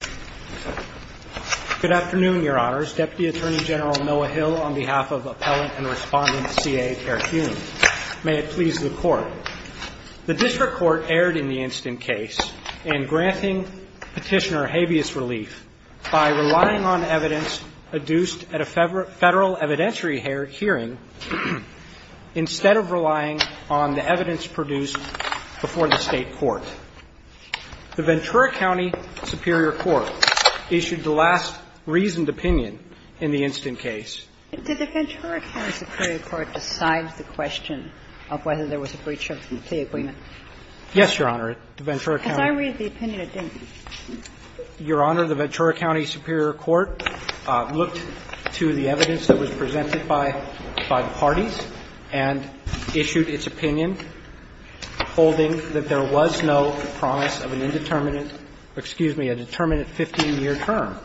Good afternoon, Your Honors. Deputy Attorney General Noah Hill on behalf of Appellant and Respondent C.A. Terhune. May it please the Court. The District Court erred in the incident case in granting petitioner habeas relief by relying on evidence adduced at a federal evidentiary hearing instead of relying on the evidence produced before the State Court. The Ventura County Superior Court issued the last reasoned opinion in the incident case. Did the Ventura County Superior Court decide the question of whether there was a breach of the plea agreement? Yes, Your Honor. Ventura County. As I read the opinion, it didn't. Your Honor, the Ventura County Superior Court looked to the evidence that was presented by the parties and issued its opinion holding that there was no promise of an indeterminate or, excuse me, a determinate 15-year term.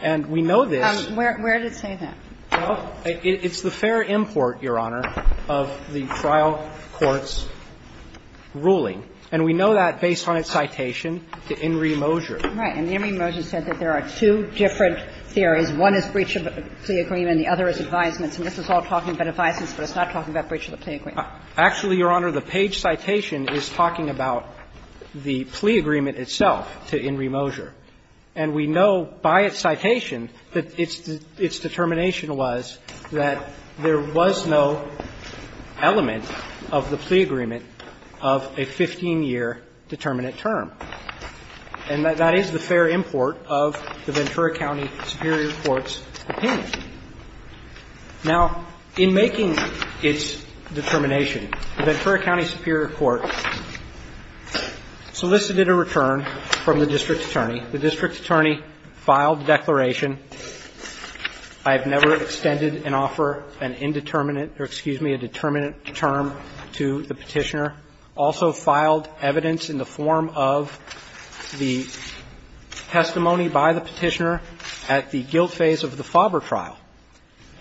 And we know this. Where did it say that? Well, it's the fair import, Your Honor, of the trial court's ruling. And we know that based on its citation to In re Mojo. Right. And In re Mojo said that there are two different theories. One is breach of the plea agreement and the other is advisements. And this is all talking about advisements, but it's not talking about breach of the plea agreement. Actually, Your Honor, the page citation is talking about the plea agreement itself to In re Mojo. And we know by its citation that its determination was that there was no element of the plea agreement of a 15-year determinate term. And that is the fair import of the Ventura County Superior Court's opinion. Now, in making its determination, the Ventura County Superior Court solicited a return from the district attorney. The district attorney filed the declaration. I have never extended an offer, an indeterminate or, excuse me, a determinate term to the Petitioner. The Petitioner also filed evidence in the form of the testimony by the Petitioner at the guilt phase of the Faber trial,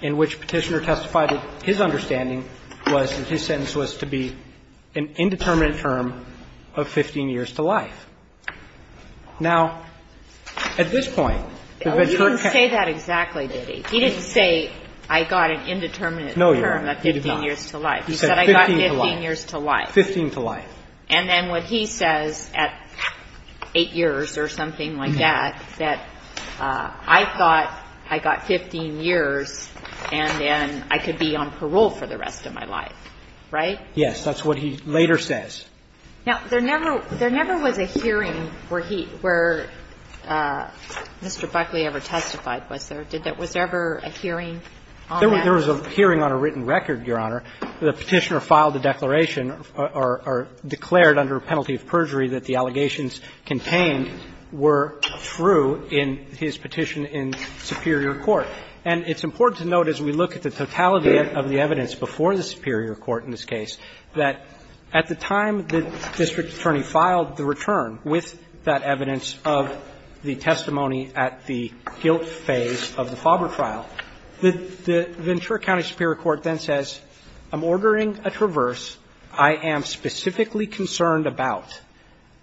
in which Petitioner testified that his understanding was that his sentence was to be an indeterminate term of 15 years to life. Now, at this point, the Ventura County ---- Well, he didn't say that exactly, did he? He didn't say, I got an indeterminate term of 15 years to life. No, Your Honor, he did not. He said I got 15 years to life. 15 to life. And then what he says at 8 years or something like that, that I thought I got 15 years and then I could be on parole for the rest of my life, right? Yes. That's what he later says. Now, there never was a hearing where he ---- where Mr. Buckley ever testified. Was there? Was there ever a hearing on that? There was a hearing on a written record, Your Honor, the Petitioner filed a declaration or declared under a penalty of perjury that the allegations contained were true in his petition in superior court. And it's important to note, as we look at the totality of the evidence before the superior court in this case, that at the time the district attorney filed the return with that Ventura County Superior Court then says, I'm ordering a traverse. I am specifically concerned about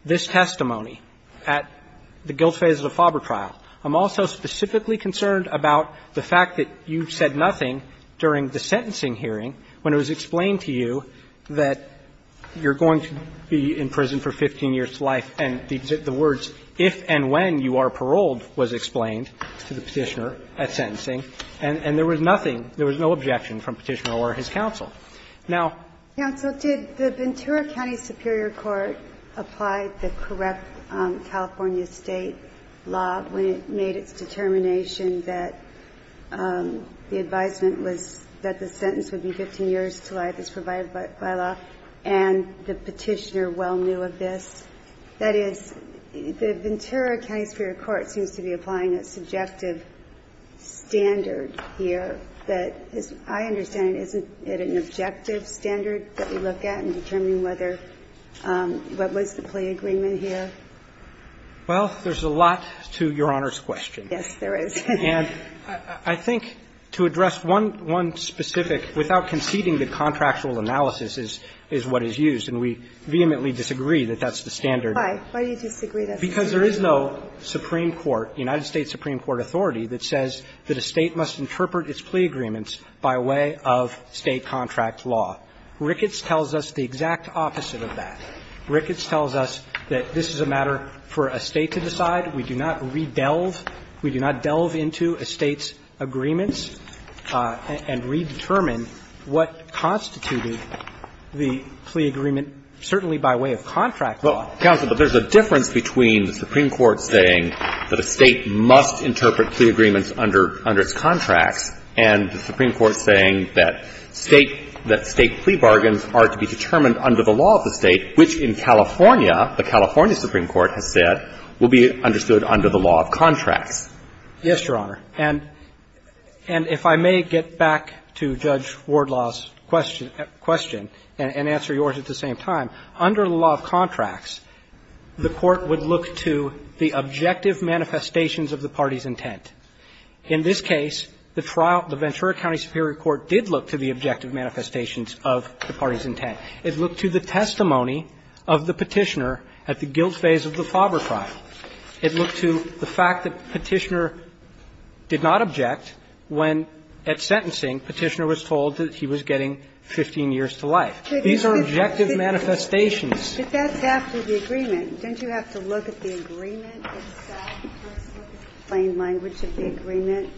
this testimony at the guilt phase of the FOBRA trial. I'm also specifically concerned about the fact that you said nothing during the sentencing hearing when it was explained to you that you're going to be in prison for 15 years to life and the words if and when you are paroled was explained to the Petitioner at sentencing. And there was nothing, there was no objection from Petitioner or his counsel. Now, counsel, did the Ventura County Superior Court apply the correct California State law when it made its determination that the advisement was that the sentence would be 15 years to life as provided by law and the Petitioner well knew of this? That is, the Ventura County Superior Court seems to be applying a subjective standard here that is, I understand, isn't it an objective standard that we look at in determining whether, what was the plea agreement here? Well, there's a lot to Your Honor's question. Yes, there is. And I think to address one specific, without conceding that contractual analysis is what is used, and we vehemently disagree that that's the standard. Why? Why do you disagree that's the standard? Because there is no Supreme Court, United States Supreme Court authority that says that a State must interpret its plea agreements by way of State contract law. Ricketts tells us the exact opposite of that. Ricketts tells us that this is a matter for a State to decide. We do not re-delve, we do not delve into a State's agreements and redetermine what constituted the plea agreement, certainly by way of contract law. Counsel, but there's a difference between the Supreme Court saying that a State must interpret plea agreements under its contracts and the Supreme Court saying that State plea bargains are to be determined under the law of the State, which in California, the California Supreme Court has said, will be understood under the law of contracts. Yes, Your Honor. And if I may get back to Judge Wardlaw's question and answer yours at the same time. Under the law of contracts, the Court would look to the objective manifestations of the party's intent. In this case, the trial, the Ventura County Superior Court did look to the objective manifestations of the party's intent. It looked to the testimony of the Petitioner at the guilt phase of the Faber trial. It looked to the fact that Petitioner did not object when, at sentencing, Petitioner was told that he was getting 15 years to life. These are objective manifestations. But that's after the agreement. Don't you have to look at the agreement itself, the plain language of the agreement,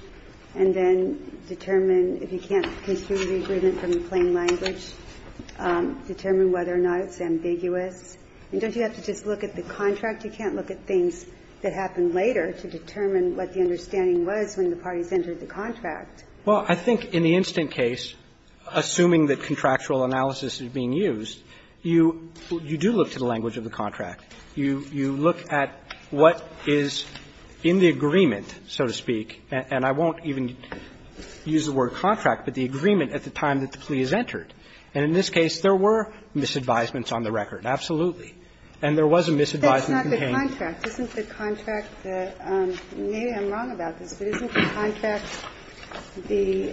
and then determine if you can't conclude the agreement from the plain language, determine whether or not it's ambiguous? And don't you have to just look at the contract? You can't look at things that happen later to determine what the understanding was when the parties entered the contract. Well, I think in the instant case, assuming that contractual analysis is being used, you do look to the language of the contract. You look at what is in the agreement, so to speak, and I won't even use the word contract, but the agreement at the time that the plea is entered. And in this case, there were misadvisements on the record, absolutely. And there was a misadvisement contained. The contract, isn't the contract the – maybe I'm wrong about this, but isn't the contract the –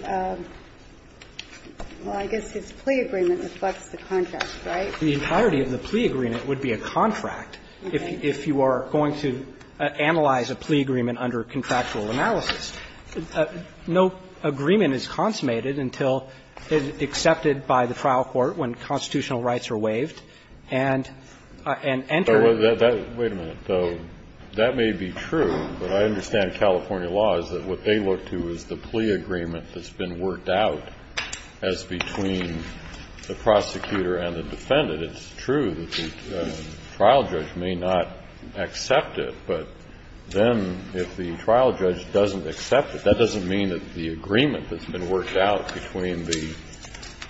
well, I guess his plea agreement reflects the contract, right? The entirety of the plea agreement would be a contract if you are going to analyze a plea agreement under contractual analysis. No agreement is consummated until it is accepted by the trial court when constitutional rights are waived and entered. Well, that – wait a minute, though. That may be true, but I understand California law is that what they look to is the plea agreement that's been worked out as between the prosecutor and the defendant. It's true that the trial judge may not accept it, but then if the trial judge doesn't accept it, that doesn't mean that the agreement that's been worked out between the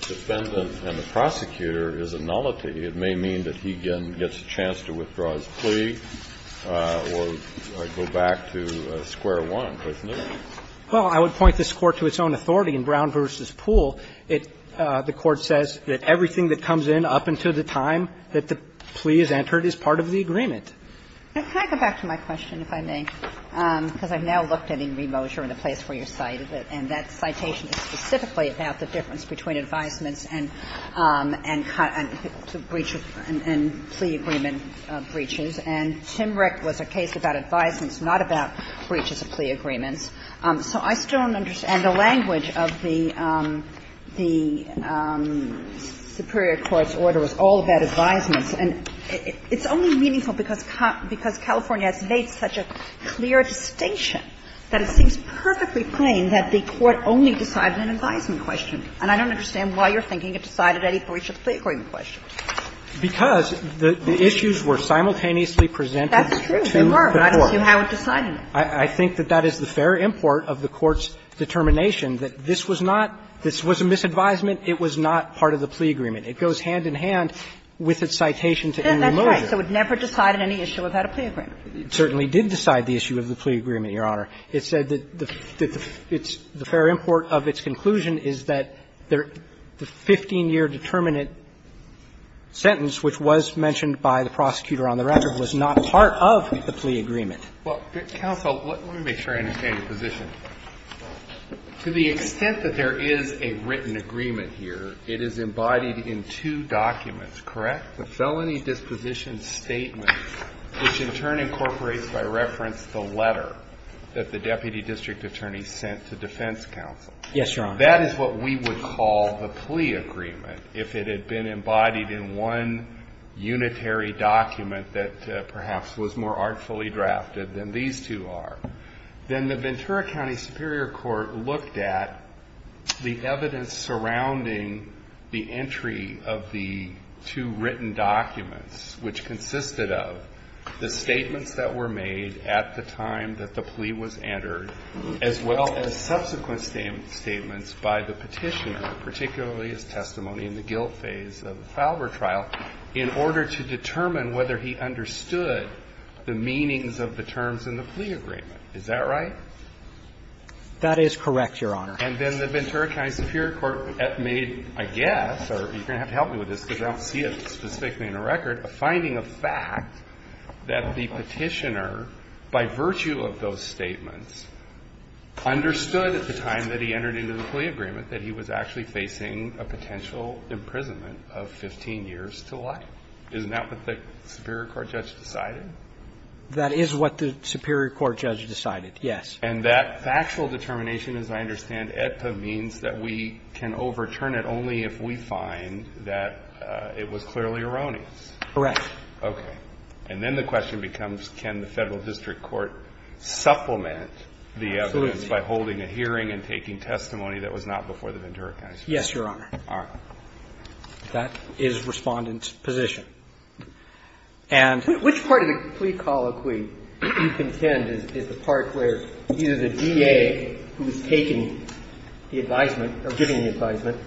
defendant and the prosecutor is a nullity. It may mean that he, again, gets a chance to withdraw his plea or go back to square one, doesn't it? Well, I would point this Court to its own authority in Brown v. Poole. It – the Court says that everything that comes in up until the time that the plea is entered is part of the agreement. Can I go back to my question, if I may? Because I've now looked at Enri Mojo and the place where you cited it, and that was a case about advisements, not about breaches of plea agreements. So I still don't understand the language of the superior court's order was all about advisements. And it's only meaningful because California has made such a clear distinction that it seems perfectly plain that the court only decided an advisement question. And I don't understand why you're thinking it decided any breach of the plea agreement question. Because the issues were simultaneously presented to the court. That's true. They were, but you haven't decided it. I think that that is the fair import of the Court's determination that this was not – this was a misadvisement. It was not part of the plea agreement. It goes hand in hand with its citation to Enri Mojo. Yes, that's right. So it never decided any issue without a plea agreement. It certainly did decide the issue of the plea agreement, Your Honor. It said that the – it's – the fair import of its conclusion is that the 15-year determinant sentence, which was mentioned by the prosecutor on the record, was not part of the plea agreement. Well, counsel, let me make sure I understand your position. To the extent that there is a written agreement here, it is embodied in two documents, correct? The felony disposition statement, which in turn incorporates by reference the letter that the deputy district attorney sent to defense counsel. Yes, Your Honor. That is what we would call the plea agreement if it had been embodied in one unitary document that perhaps was more artfully drafted than these two are. Then the Ventura County Superior Court looked at the evidence surrounding the entry of the two written documents, which consisted of the statements that were made at the time that the plea was entered, as well as subsequent statements by the Petitioner, particularly his testimony in the guilt phase of the Falber trial, in order to determine whether he understood the meanings of the terms in the plea agreement. Is that right? That is correct, Your Honor. And then the Ventura County Superior Court made a guess, or you're going to have to help me with this because I don't see it specifically in the record, a finding of fact that the Petitioner, by virtue of those statements, understood at the time that he entered into the plea agreement that he was actually facing a potential imprisonment of 15 years to life. Isn't that what the Superior Court judge decided? That is what the Superior Court judge decided, yes. And that factual determination, as I understand it, means that we can overturn it only if we find that it was clearly erroneous. Correct. Okay. And then the question becomes, can the Federal District Court supplement the evidence by holding a hearing and taking testimony that was not before the Ventura County Superior Court? Yes, Your Honor. All right. That is Respondent's position. And the question is, which part of the plea colloquy do you contend is the part where either the DA, who is taking the advisement or giving the advisement,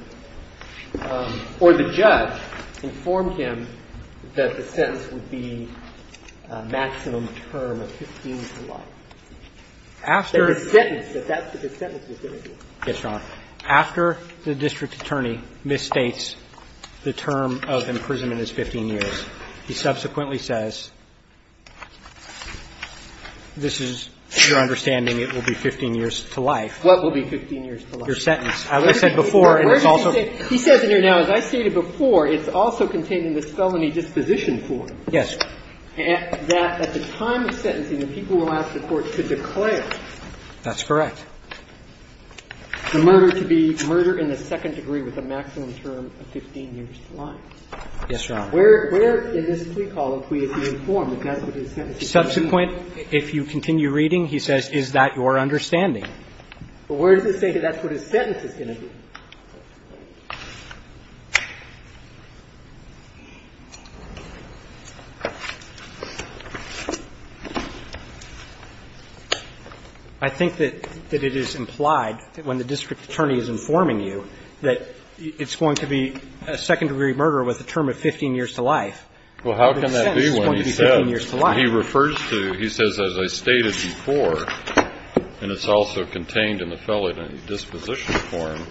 or the judge informed him that the sentence would be a maximum term of 15 years to life? That the sentence, that that's what the sentence was going to be. Yes, Your Honor. After the district attorney misstates the term of imprisonment as 15 years, he subsequently says, this is your understanding, it will be 15 years to life. What will be 15 years to life? I said before, and it's also the case. He says in there now, as I stated before, it's also contained in the felony disposition form. Yes. That at the time of sentencing, the people will ask the court to declare. That's correct. The murder to be murder in the second degree with a maximum term of 15 years to life. Yes, Your Honor. Where, where in this plea colloquy is he informed that that's what his sentence is going to be? Subsequent, if you continue reading, he says, is that your understanding? But where does it say that that's what his sentence is going to be? I think that it is implied that when the district attorney is informing you that it's going to be a second degree murder with a term of 15 years to life. Well, how can that be when he says, as I stated before, and it's also contained in the felony disposition form,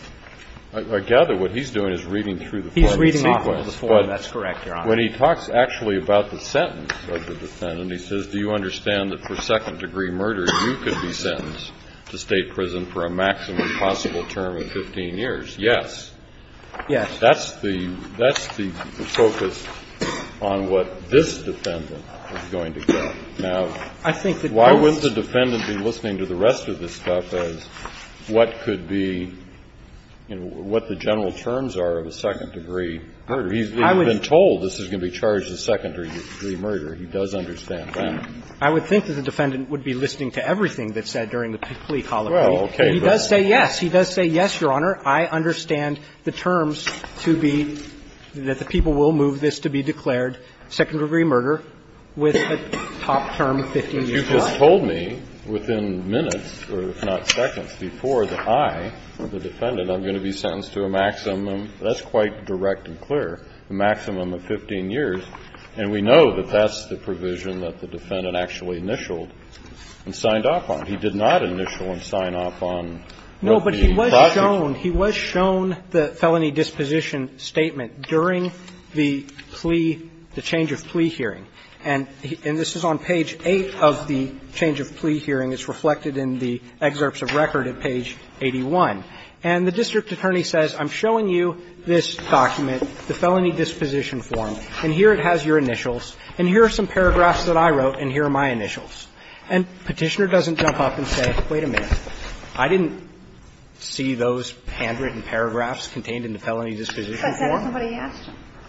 I gather what he's doing is reading through the form in sequence. He's reading off of the form. That's correct, Your Honor. But when he talks actually about the sentence of the defendant, he says, do you understand that for second degree murder, you could be sentenced to State prison for a maximum possible term of 15 years? Yes. Yes. That's the, that's the focus on what this defendant is going to get. Now, why wouldn't the defendant be listening to the rest of this stuff as what could be, you know, what the general terms are of a second degree murder? He's been told this is going to be charged as second degree murder. He does understand that. I would think that the defendant would be listening to everything that's said during the plea colloquy. Well, okay. But he does say yes. He does say yes, Your Honor. I understand the terms to be that the people will move this to be declared second degree murder with a top term of 15 years. But you just told me within minutes, or if not seconds, before that I, the defendant, I'm going to be sentenced to a maximum. That's quite direct and clear, a maximum of 15 years. And we know that that's the provision that the defendant actually initialed and signed off on. He did not initial and sign off on what the process was. No, but he was shown, he was shown the felony disposition statement during the plea hearing, the change of plea hearing. And this is on page 8 of the change of plea hearing. It's reflected in the excerpts of record at page 81. And the district attorney says, I'm showing you this document, the felony disposition form, and here it has your initials, and here are some paragraphs that I wrote, and here are my initials. And Petitioner doesn't jump up and say, wait a minute, I didn't see those handwritten paragraphs contained in the felony disposition form.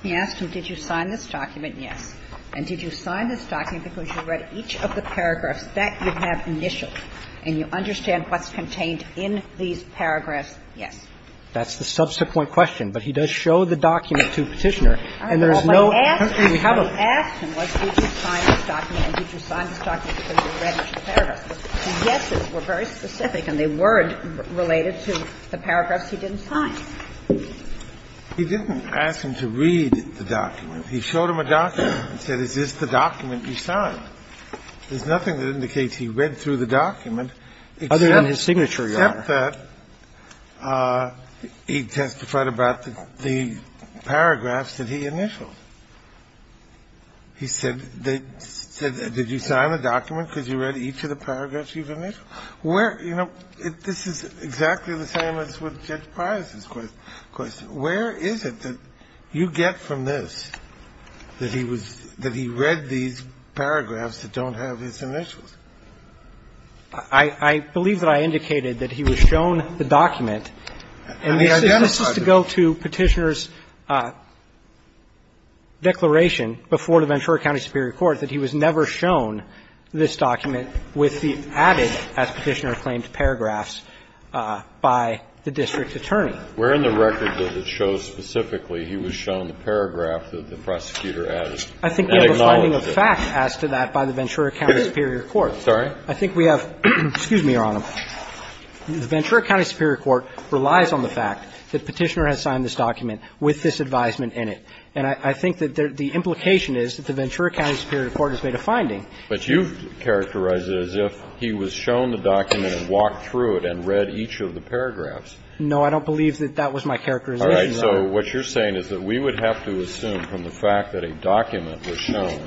He asked him, did you sign this document? Yes. And did you sign this document because you read each of the paragraphs that you have initialed, and you understand what's contained in these paragraphs? Yes. That's the subsequent question. But he does show the document to Petitioner, and there's no. He asked him, did you sign this document, and did you sign this document because you read each of the paragraphs. The yeses were very specific, and they were related to the paragraphs he didn't sign. He didn't ask him to read the document. He showed him a document and said, is this the document you signed? There's nothing that indicates he read through the document except that he testified about the paragraphs that he initialed. He said, did you sign the document because you read each of the paragraphs you've initialed? Where, you know, this is exactly the same as with Judge Price's question. Where is it that you get from this that he was – that he read these paragraphs that don't have his initials? I believe that I indicated that he was shown the document, and this is to go to Petitioner's declaration before the Ventura County Superior Court that he was never shown this document. And I think that's the reason that Petitioner claimed paragraphs by the district attorney. Where in the record does it show specifically he was shown the paragraph that the prosecutor added? I think we have a finding of fact as to that by the Ventura County Superior Court. Sorry? I think we have – excuse me, Your Honor. The Ventura County Superior Court relies on the fact that Petitioner has signed this document with this advisement in it. And I think that the implication is that the Ventura County Superior Court has made a finding. But you've characterized it as if he was shown the document and walked through it and read each of the paragraphs. No, I don't believe that that was my characterization, Your Honor. All right. So what you're saying is that we would have to assume from the fact that a document was shown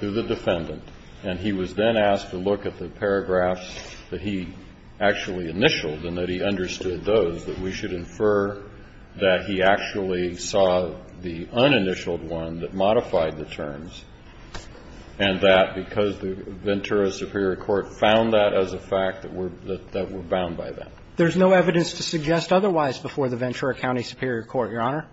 to the defendant, and he was then asked to look at the paragraphs that he actually initialed and that he understood those, that we should infer that he actually saw the uninitialed one that modified the terms, and that because the Ventura Superior Court found that as a fact that we're – that we're bound by that. There's no evidence to suggest otherwise before the Ventura County Superior Court, Your Honor.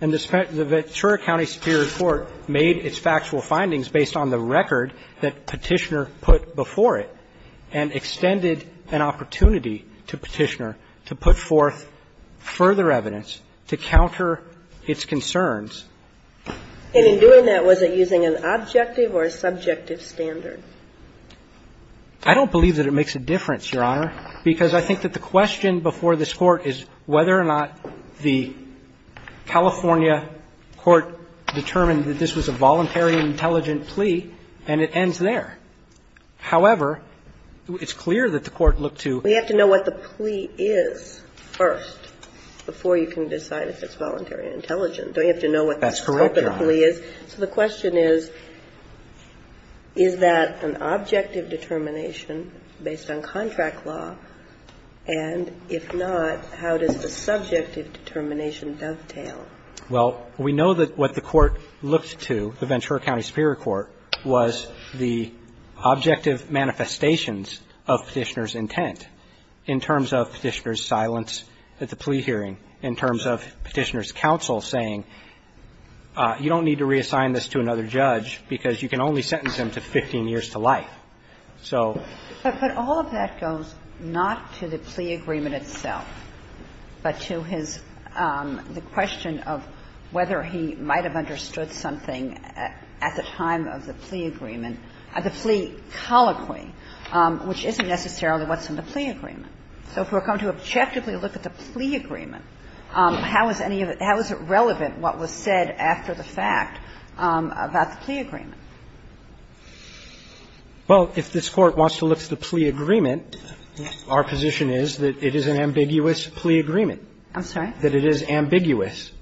And the Ventura County Superior Court made its factual findings based on the record that Petitioner put before it and extended an opportunity to Petitioner to put forth further evidence to counter its concerns. And in doing that, was it using an objective or a subjective standard? I don't believe that it makes a difference, Your Honor, because I think that the question before this Court is whether or not the California court determined that this was a voluntary and intelligent plea, and it ends there. However, it's clear that the Court looked to – We have to know what the plea is first before you can decide if it's voluntary and intelligent. Don't you have to know what the scope of the plea is? That's correct, Your Honor. So the question is, is that an objective determination based on contract law? And if not, how does the subjective determination dovetail? Well, we know that what the Court looked to, the Ventura County Superior Court, was the objective manifestations of Petitioner's intent in terms of Petitioner's silence at the plea hearing, in terms of Petitioner's counsel saying, you don't need to reassign this to another judge because you can only sentence him to 15 years to life. So – But all of that goes not to the plea agreement itself, but to his – the question of whether he might have understood something at the time of the plea agreement at the plea colloquy, which isn't necessarily what's in the plea agreement. So if we're going to objectively look at the plea agreement, how is any of it – how is it relevant what was said after the fact about the plea agreement? Well, if this Court wants to look to the plea agreement, our position is that it is an ambiguous plea agreement. I'm sorry? That it is ambiguous,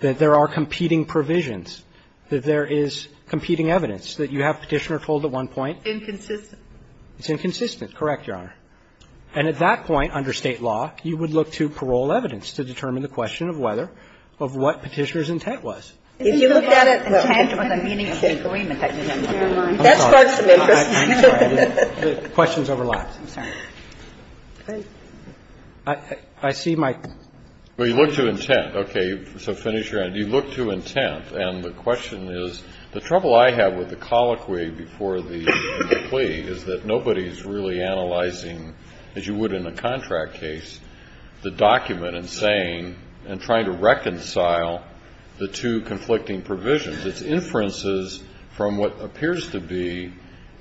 that there are competing provisions, that there is competing evidence, that you have Petitioner told at one point. Inconsistent. It's inconsistent. Correct, Your Honor. And at that point, under State law, you would look to parole evidence to determine the question of whether – of what Petitioner's intent was. If you looked at it, the intent was a meaningful agreement that you didn't want. Never mind. That sparks some interest. I'm sorry. The questions overlap. I'm sorry. I see my – Well, you look to intent. Okay. So finish your end. You look to intent. And the question is, the trouble I have with the colloquy before the plea is that nobody's really analyzing, as you would in a contract case, the document and saying and trying to reconcile the two conflicting provisions. It's inferences from what appears to be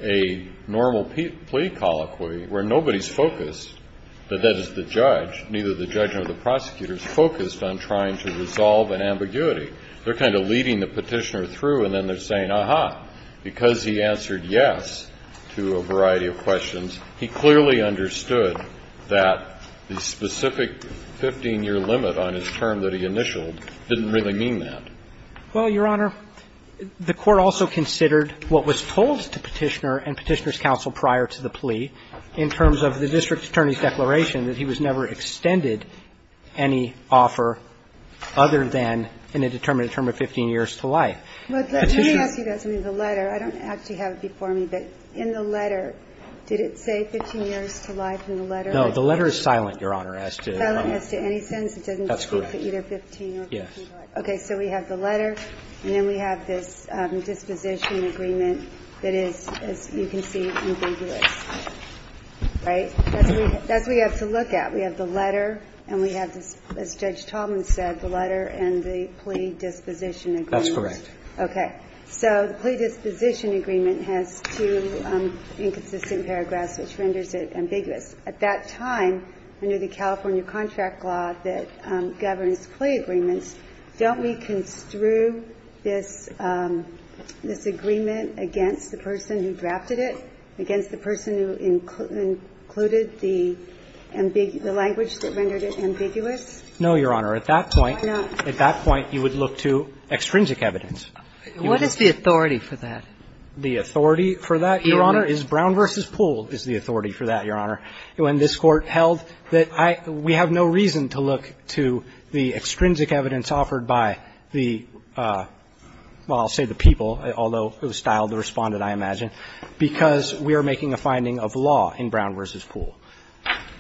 a normal plea colloquy, where nobody's the judge, neither the judge nor the prosecutor, is focused on trying to resolve an ambiguity. They're kind of leading the Petitioner through, and then they're saying, aha, because he answered yes to a variety of questions, he clearly understood that the specific 15-year limit on his term that he initialed didn't really mean that. Well, Your Honor, the Court also considered what was told to Petitioner and Petitioner's counsel prior to the plea in terms of the district attorney's declaration that he was never extended any offer other than in a determined term of 15 years to life. But let me ask you guys, I mean, the letter. I don't actually have it before me, but in the letter, did it say 15 years to life in the letter? No. The letter is silent, Your Honor, as to any sense. It doesn't speak to either 15 or 15 to life. That's correct. Yes. Okay. So we have the letter, and then we have this disposition agreement that is, as you can see, ambiguous. Right? That's what you have to look at. We have the letter, and we have, as Judge Tallman said, the letter and the plea disposition agreement. That's correct. Okay. So the plea disposition agreement has two inconsistent paragraphs, which renders it ambiguous. At that time, under the California contract law that governs plea agreements, don't we construe this agreement against the person who drafted it, against the person who included the language that rendered it ambiguous? No, Your Honor. Why not? At that point, you would look to extrinsic evidence. What is the authority for that? The authority for that, Your Honor, is Brown v. Poole is the authority for that, Your Honor. When this Court held that we have no reason to look to the extrinsic evidence offered by the, well, I'll say the people, although it was styled to respond, I imagine, because we are making a finding of law in Brown v. Poole.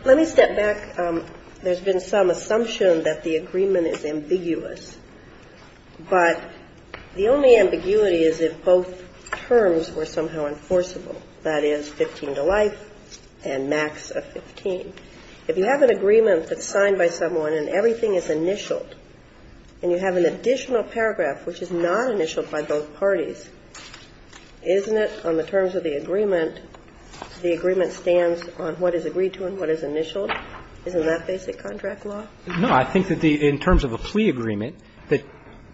Let me step back. There's been some assumption that the agreement is ambiguous, but the only ambiguity is if both terms were somehow enforceable, that is, 15 to life and max of 15. If you have an agreement that's signed by someone and everything is initialed, and you have an additional paragraph which is not initialed by both parties, isn't it on the terms of the agreement, the agreement stands on what is agreed to and what is initialed? Isn't that basic contract law? No. I think that in terms of a plea agreement, that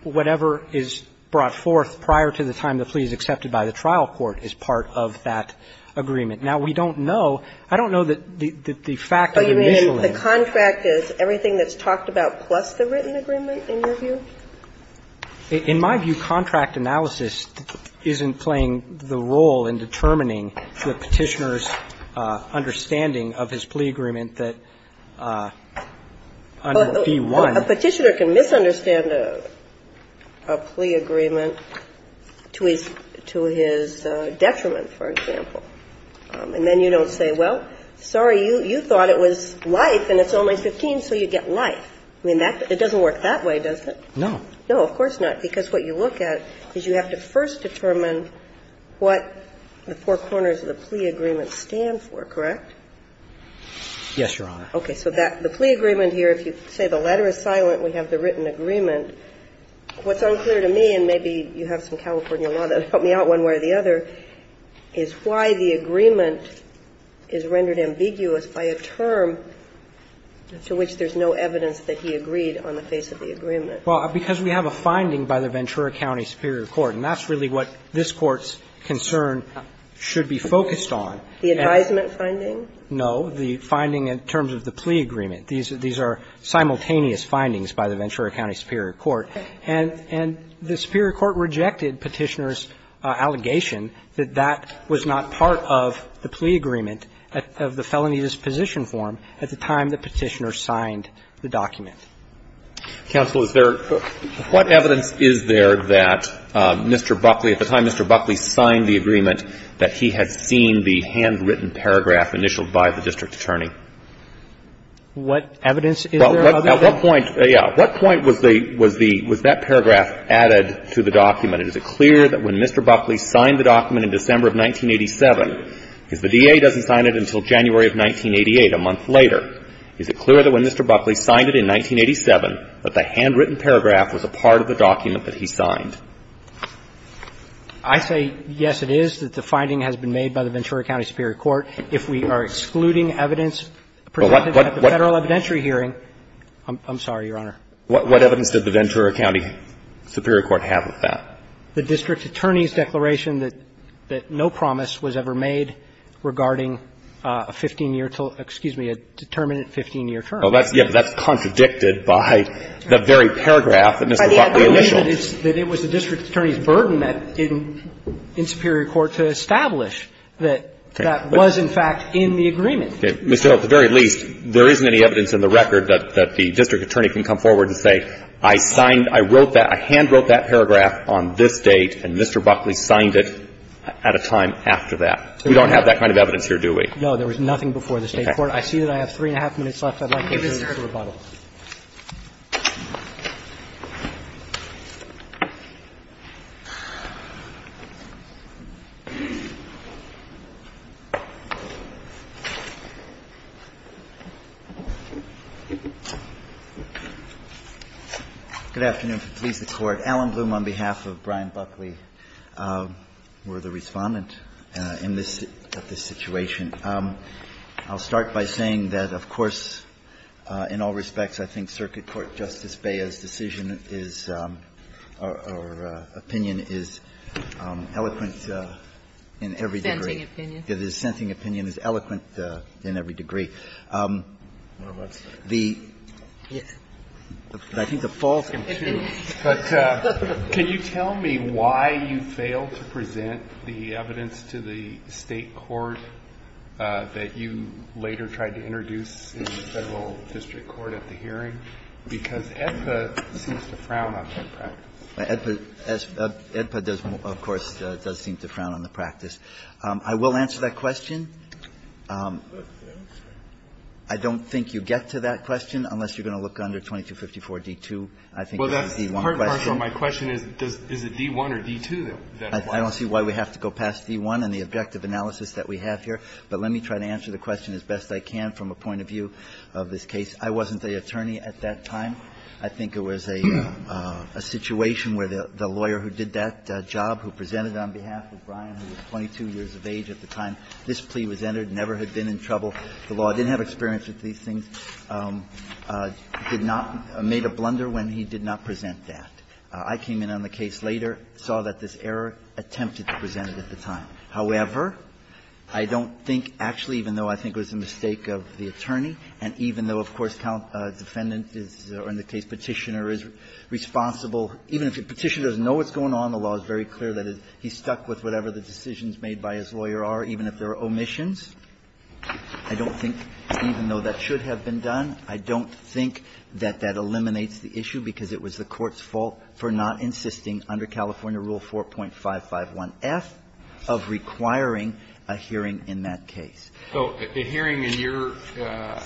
whatever is brought forth prior to the time the plea is accepted by the trial court is part of that agreement. Now, we don't know. I don't know that the fact of initialing. The contract is everything that's talked about plus the written agreement, in your view? In my view, contract analysis isn't playing the role in determining the Petitioner's understanding of his plea agreement that under B-1. A Petitioner can misunderstand a plea agreement to his detriment, for example. And then you don't say, well, sorry, you thought it was life and it's only 15, so you get life. I mean, it doesn't work that way, does it? No. No, of course not, because what you look at is you have to first determine what the four corners of the plea agreement stand for, correct? Yes, Your Honor. Okay. So the plea agreement here, if you say the letter is silent, we have the written agreement. What's unclear to me, and maybe you have some California law that will help me out here, is why the agreement is rendered ambiguous by a term to which there's no evidence that he agreed on the face of the agreement. Well, because we have a finding by the Ventura County Superior Court, and that's really what this Court's concern should be focused on. The advisement finding? No, the finding in terms of the plea agreement. These are simultaneous findings by the Ventura County Superior Court. And the Superior Court rejected Petitioner's allegation that that was not part of the plea agreement of the felonious position form at the time that Petitioner signed the document. Counsel, is there, what evidence is there that Mr. Buckley, at the time Mr. Buckley signed the agreement, that he had seen the handwritten paragraph initialed by the district attorney? What evidence is there? Well, at what point, yeah, at what point was the, was the, was that paragraph added to the document? Is it clear that when Mr. Buckley signed the document in December of 1987, because the DA doesn't sign it until January of 1988, a month later, is it clear that when Mr. Buckley signed it in 1987 that the handwritten paragraph was a part of the document that he signed? I say, yes, it is, that the finding has been made by the Ventura County Superior Court if we are excluding evidence presented at the Federal evidentiary hearing. I'm sorry, Your Honor. What evidence did the Ventura County Superior Court have of that? The district attorney's declaration that no promise was ever made regarding a 15-year term, excuse me, a determinate 15-year term. Well, that's, yeah, but that's contradicted by the very paragraph that Mr. Buckley initialed. By the evidence that it was the district attorney's burden in Superior Court to establish that that was, in fact, in the agreement. Mr. O, at the very least, there isn't any evidence in the record that the district attorney can come forward and say, I signed, I wrote that, I handwrote that paragraph on this date, and Mr. Buckley signed it at a time after that. We don't have that kind of evidence here, do we? No, there was nothing before the State court. Okay. I see that I have three and a half minutes left. I'd like to turn to rebuttal. Good afternoon. Please, the Court. Alan Bloom, on behalf of Brian Buckley, we're the Respondent in this situation. I'll start by saying that, of course, in all respects, I think Circuit Court Justice Bea's decision is or opinion is eloquent in every degree. Scenting opinion. Yes, the scenting opinion is eloquent in every degree. I think the fall is going to be huge. But can you tell me why you failed to present the evidence to the State court? That you later tried to introduce in the Federal District Court at the hearing? Because AEDPA seems to frown on that practice. AEDPA does, of course, does seem to frown on the practice. I will answer that question. I don't think you get to that question unless you're going to look under 2254 D2. I think it's a D1 question. Well, that's hard to answer. My question is, is it D1 or D2? I don't see why we have to go past D1 and the objective analysis that we have here. But let me try to answer the question as best I can from a point of view of this case. I wasn't the attorney at that time. I think it was a situation where the lawyer who did that job, who presented on behalf of Brian, who was 22 years of age at the time, this plea was entered, never had been in trouble. The law didn't have experience with these things, did not made a blunder when he did not present that. I came in on the case later, saw that this error attempted to present it at the time. However, I don't think, actually, even though I think it was a mistake of the attorney and even though, of course, defendant is, or in the case Petitioner is responsible even if Petitioner doesn't know what's going on, the law is very clear that he's stuck with whatever the decisions made by his lawyer are, even if there are omissions. I don't think, even though that should have been done, I don't think that that eliminates the issue because it was the court's fault for not insisting under California Rule 4.551F of requiring a hearing in that case. So a hearing in your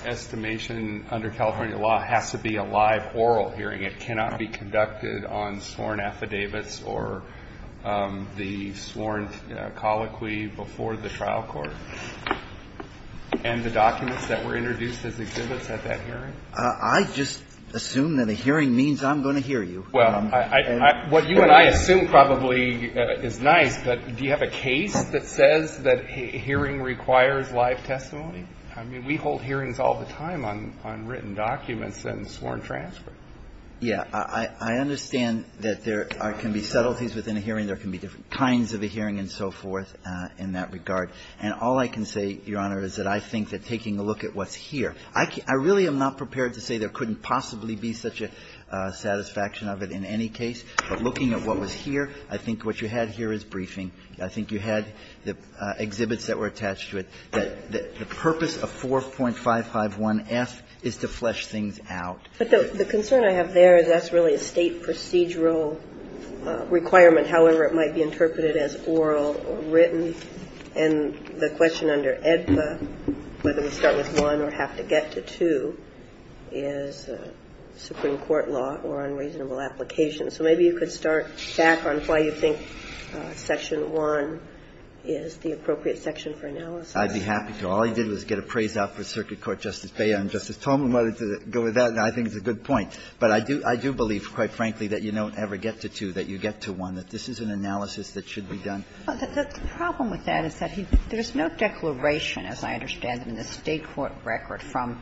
estimation under California law has to be a live oral hearing. It cannot be conducted on sworn affidavits or the sworn colloquy before the trial court and the documents that were introduced as exhibits at that hearing? I just assume that a hearing means I'm going to hear you. Well, what you and I assume probably is nice, but do you have a case that says that hearing requires live testimony? I mean, we hold hearings all the time on written documents and sworn transcripts. Yeah. I understand that there can be subtleties within a hearing. There can be different kinds of a hearing and so forth in that regard. And all I can say, Your Honor, is that I think that taking a look at what's here I really am not prepared to say there couldn't possibly be such a satisfaction of it in any case. But looking at what was here, I think what you had here is briefing. I think you had the exhibits that were attached to it. The purpose of 4.551F is to flesh things out. But the concern I have there is that's really a State procedural requirement, however it might be interpreted as oral or written. And the question under AEDPA, whether we start with one or have to get to two, is a Supreme Court law or unreasonable application. So maybe you could start back on why you think Section 1 is the appropriate section for analysis. I'd be happy to. All I did was get a praise out for Circuit Court Justice Beyer and Justice Tolman wanted to go with that, and I think it's a good point. But I do believe, quite frankly, that you don't ever get to two, that you get to one, that this is an analysis that should be done. The problem with that is that there's no declaration, as I understand it, in the State court record from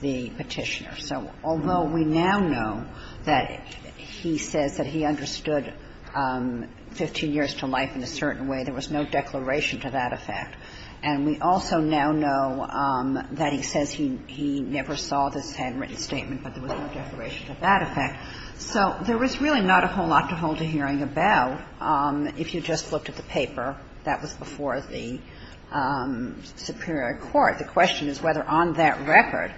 the Petitioner. So although we now know that he says that he understood 15 years to life in a certain way, there was no declaration to that effect. And we also now know that he says he never saw this handwritten statement, but there was no declaration to that effect. So there was really not a whole lot to hold a hearing about. If you just looked at the paper, that was before the superior court. The question is whether on that record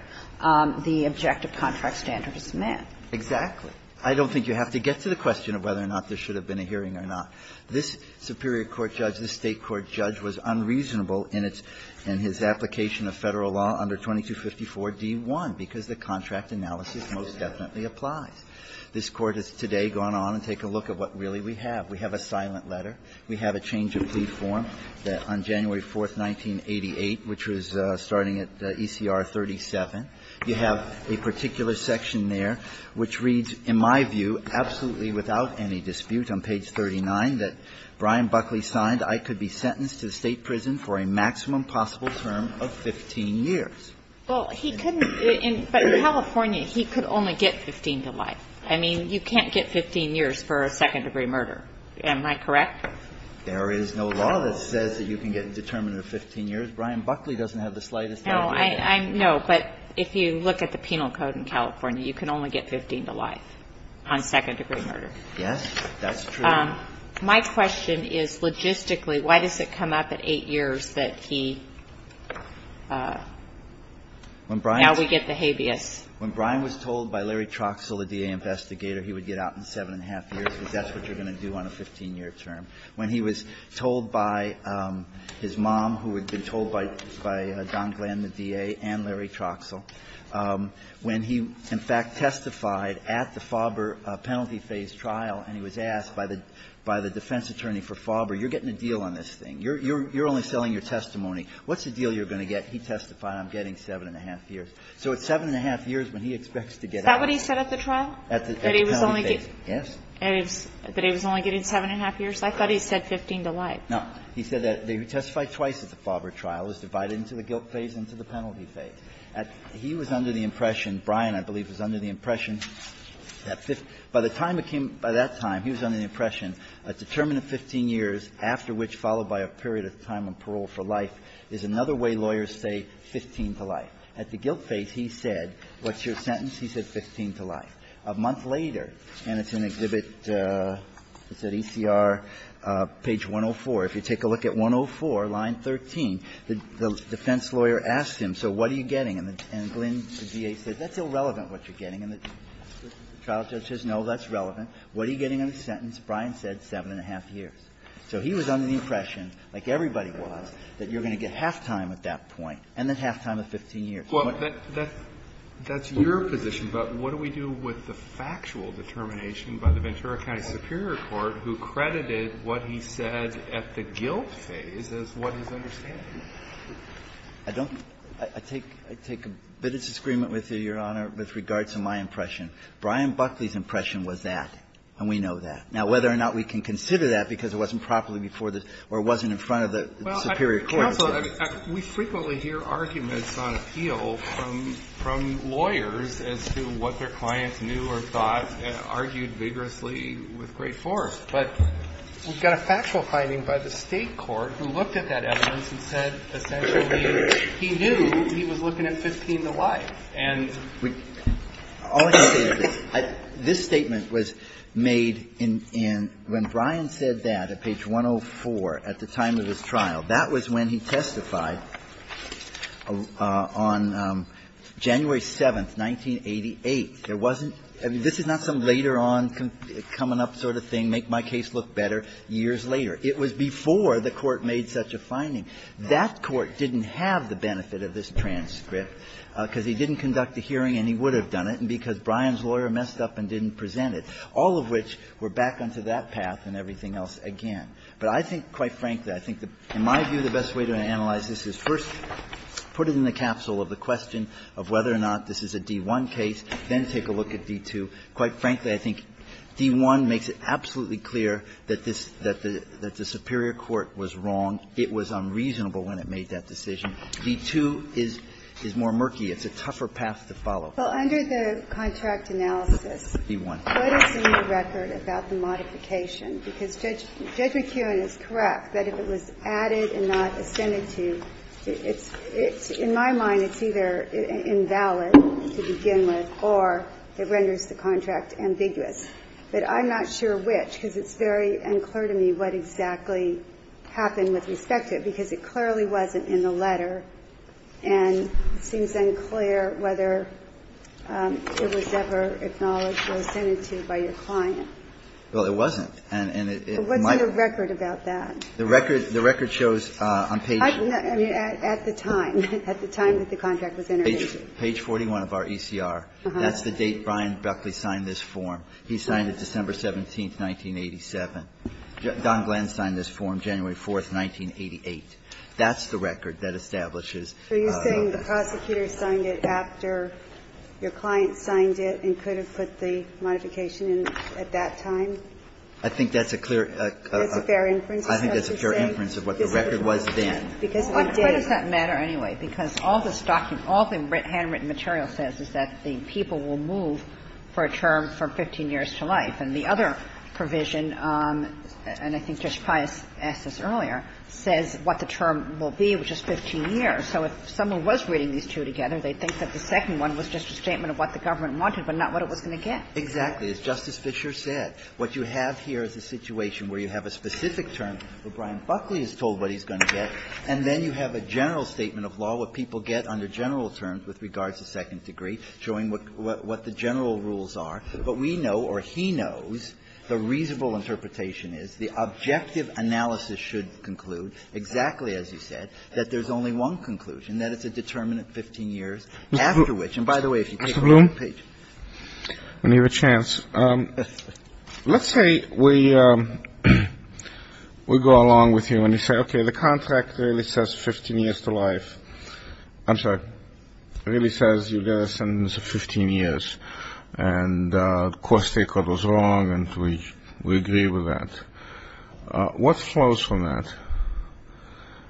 the objective contract standard is met. Exactly. I don't think you have to get to the question of whether or not there should have been a hearing or not. This superior court judge, this State court judge, was unreasonable in its – in his application of Federal law under 2254d1, because the contract analysis most definitely applies. This Court has today gone on and taken a look at what really we have. We have a silent letter. We have a change of plea form that on January 4th, 1988, which was starting at ECR 37, you have a particular section there which reads, in my view, absolutely without any dispute on page 39, that Brian Buckley signed, I could be sentenced to State prison for a maximum possible term of 15 years. Well, he couldn't – but in California, he could only get 15 to life. I mean, you can't get 15 years for a second-degree murder. Am I correct? There is no law that says that you can get a determinant of 15 years. Brian Buckley doesn't have the slightest idea. No, but if you look at the penal code in California, you can only get 15 to life on second-degree murder. Yes, that's true. My question is, logistically, why does it come up at eight years that he is sentenced to life? Now we get the habeas. When Brian was told by Larry Troxell, the DA investigator, he would get out in seven and a half years, because that's what you're going to do on a 15-year term. When he was told by his mom, who had been told by Don Glenn, the DA, and Larry Troxell, when he, in fact, testified at the Faubourg penalty phase trial and he was asked by the defense attorney for Faubourg, you're getting a deal on this thing. You're only selling your testimony. What's the deal you're going to get? He testified, I'm getting seven and a half years. So it's seven and a half years when he expects to get out. Is that what he said at the trial? At the penalty phase. Yes. That he was only getting seven and a half years? I thought he said 15 to life. No. He said that they testified twice at the Faubourg trial. It was divided into the guilt phase and into the penalty phase. He was under the impression, Brian, I believe, was under the impression that by the time it came, by that time, he was under the impression a determined 15 years, after which, followed by a period of time on parole for life, is another way lawyers say 15 to life. At the guilt phase, he said, what's your sentence? He said 15 to life. A month later, and it's an exhibit, it's at ECR, page 104. If you take a look at 104, line 13, the defense lawyer asked him, so what are you getting? And Glynn, the DA, said that's irrelevant what you're getting. And the trial judge says, no, that's relevant. What are you getting on the sentence? Brian said seven and a half years. So he was under the impression, like everybody was, that you're going to get halftime at that point, and then halftime of 15 years. Alito, that's your position, but what do we do with the factual determination by the Ventura County Superior Court who credited what he said at the guilt phase as what he's understanding? I don't – I take a bit of disagreement with you, Your Honor, with regards to my impression. Brian Buckley's impression was that, and we know that. Now, whether or not we can consider that, because it wasn't properly before the – or it wasn't in front of the Superior Court. Well, counsel, we frequently hear arguments on appeal from lawyers as to what their clients knew or thought, and argued vigorously with great force. But we've got a factual finding by the State court who looked at that evidence and said essentially he knew he was looking at 15 to life. And we – all I can say is this. This statement was made in – when Brian said that at page 104 at the time of his trial, that was when he testified on January 7th, 1988. There wasn't – I mean, this is not some later on coming up sort of thing, make my case look better, years later. It was before the Court made such a finding. That Court didn't have the benefit of this transcript because he didn't conduct a hearing and he would have done it, and because Brian's lawyer messed up and didn't present it, all of which were back onto that path and everything else again. But I think, quite frankly, I think in my view the best way to analyze this is first put it in the capsule of the question of whether or not this is a D1 case, then take a look at D2. Quite frankly, I think D1 makes it absolutely clear that this – that the Superior Court was wrong. It was unreasonable when it made that decision. D2 is – is more murky. It's a tougher path to follow. Well, under the contract analysis, what is in the record about the modification? Because Judge McEwen is correct that if it was added and not extended to, it's – in my mind, it's either invalid to begin with or it renders the contract ambiguous. But I'm not sure which, because it's very unclear to me what exactly happened with respect to it, because it clearly wasn't in the letter, and it seems unclear whether it was ever acknowledged or extended to by your client. Well, it wasn't, and it might be. What's in the record about that? The record – the record shows on page – I mean, at the time, at the time that the contract was entertained. Page 41 of our ECR. That's the date Brian Buckley signed this form. He signed it December 17th, 1987. Don Glantz signed this form January 4th, 1988. That's the record that establishes. So you're saying the prosecutor signed it after your client signed it and could have put the modification in at that time? I think that's a clear – That's a fair inference, is what you're saying? I think that's a fair inference of what the record was then. Because it did. Why does that matter anyway? Because all this document, all the handwritten material says is that the people will move for a term from 15 years to life. And the other provision, and I think Justice Pius asked this earlier, says what the term will be, which is 15 years. So if someone was reading these two together, they'd think that the second one was just a statement of what the government wanted, but not what it was going to get. Exactly. As Justice Fischer said, what you have here is a situation where you have a specific term where Brian Buckley is told what he's going to get, and then you have a general statement of law, what people get under general terms with regards to second degree, showing what the general rules are. But we know, or he knows, the reasonable interpretation is the objective analysis should conclude, exactly as you said, that there's only one conclusion, that it's a determinant 15 years after which – and by the way, if you take a look at the page – Mr. Bloom, when you have a chance, let's say we go along with you and you say, okay, the contract really says 15 years to life – I'm sorry, really says you get a sentence of 15 years, and of course the state court was wrong and we agree with that. What flows from that?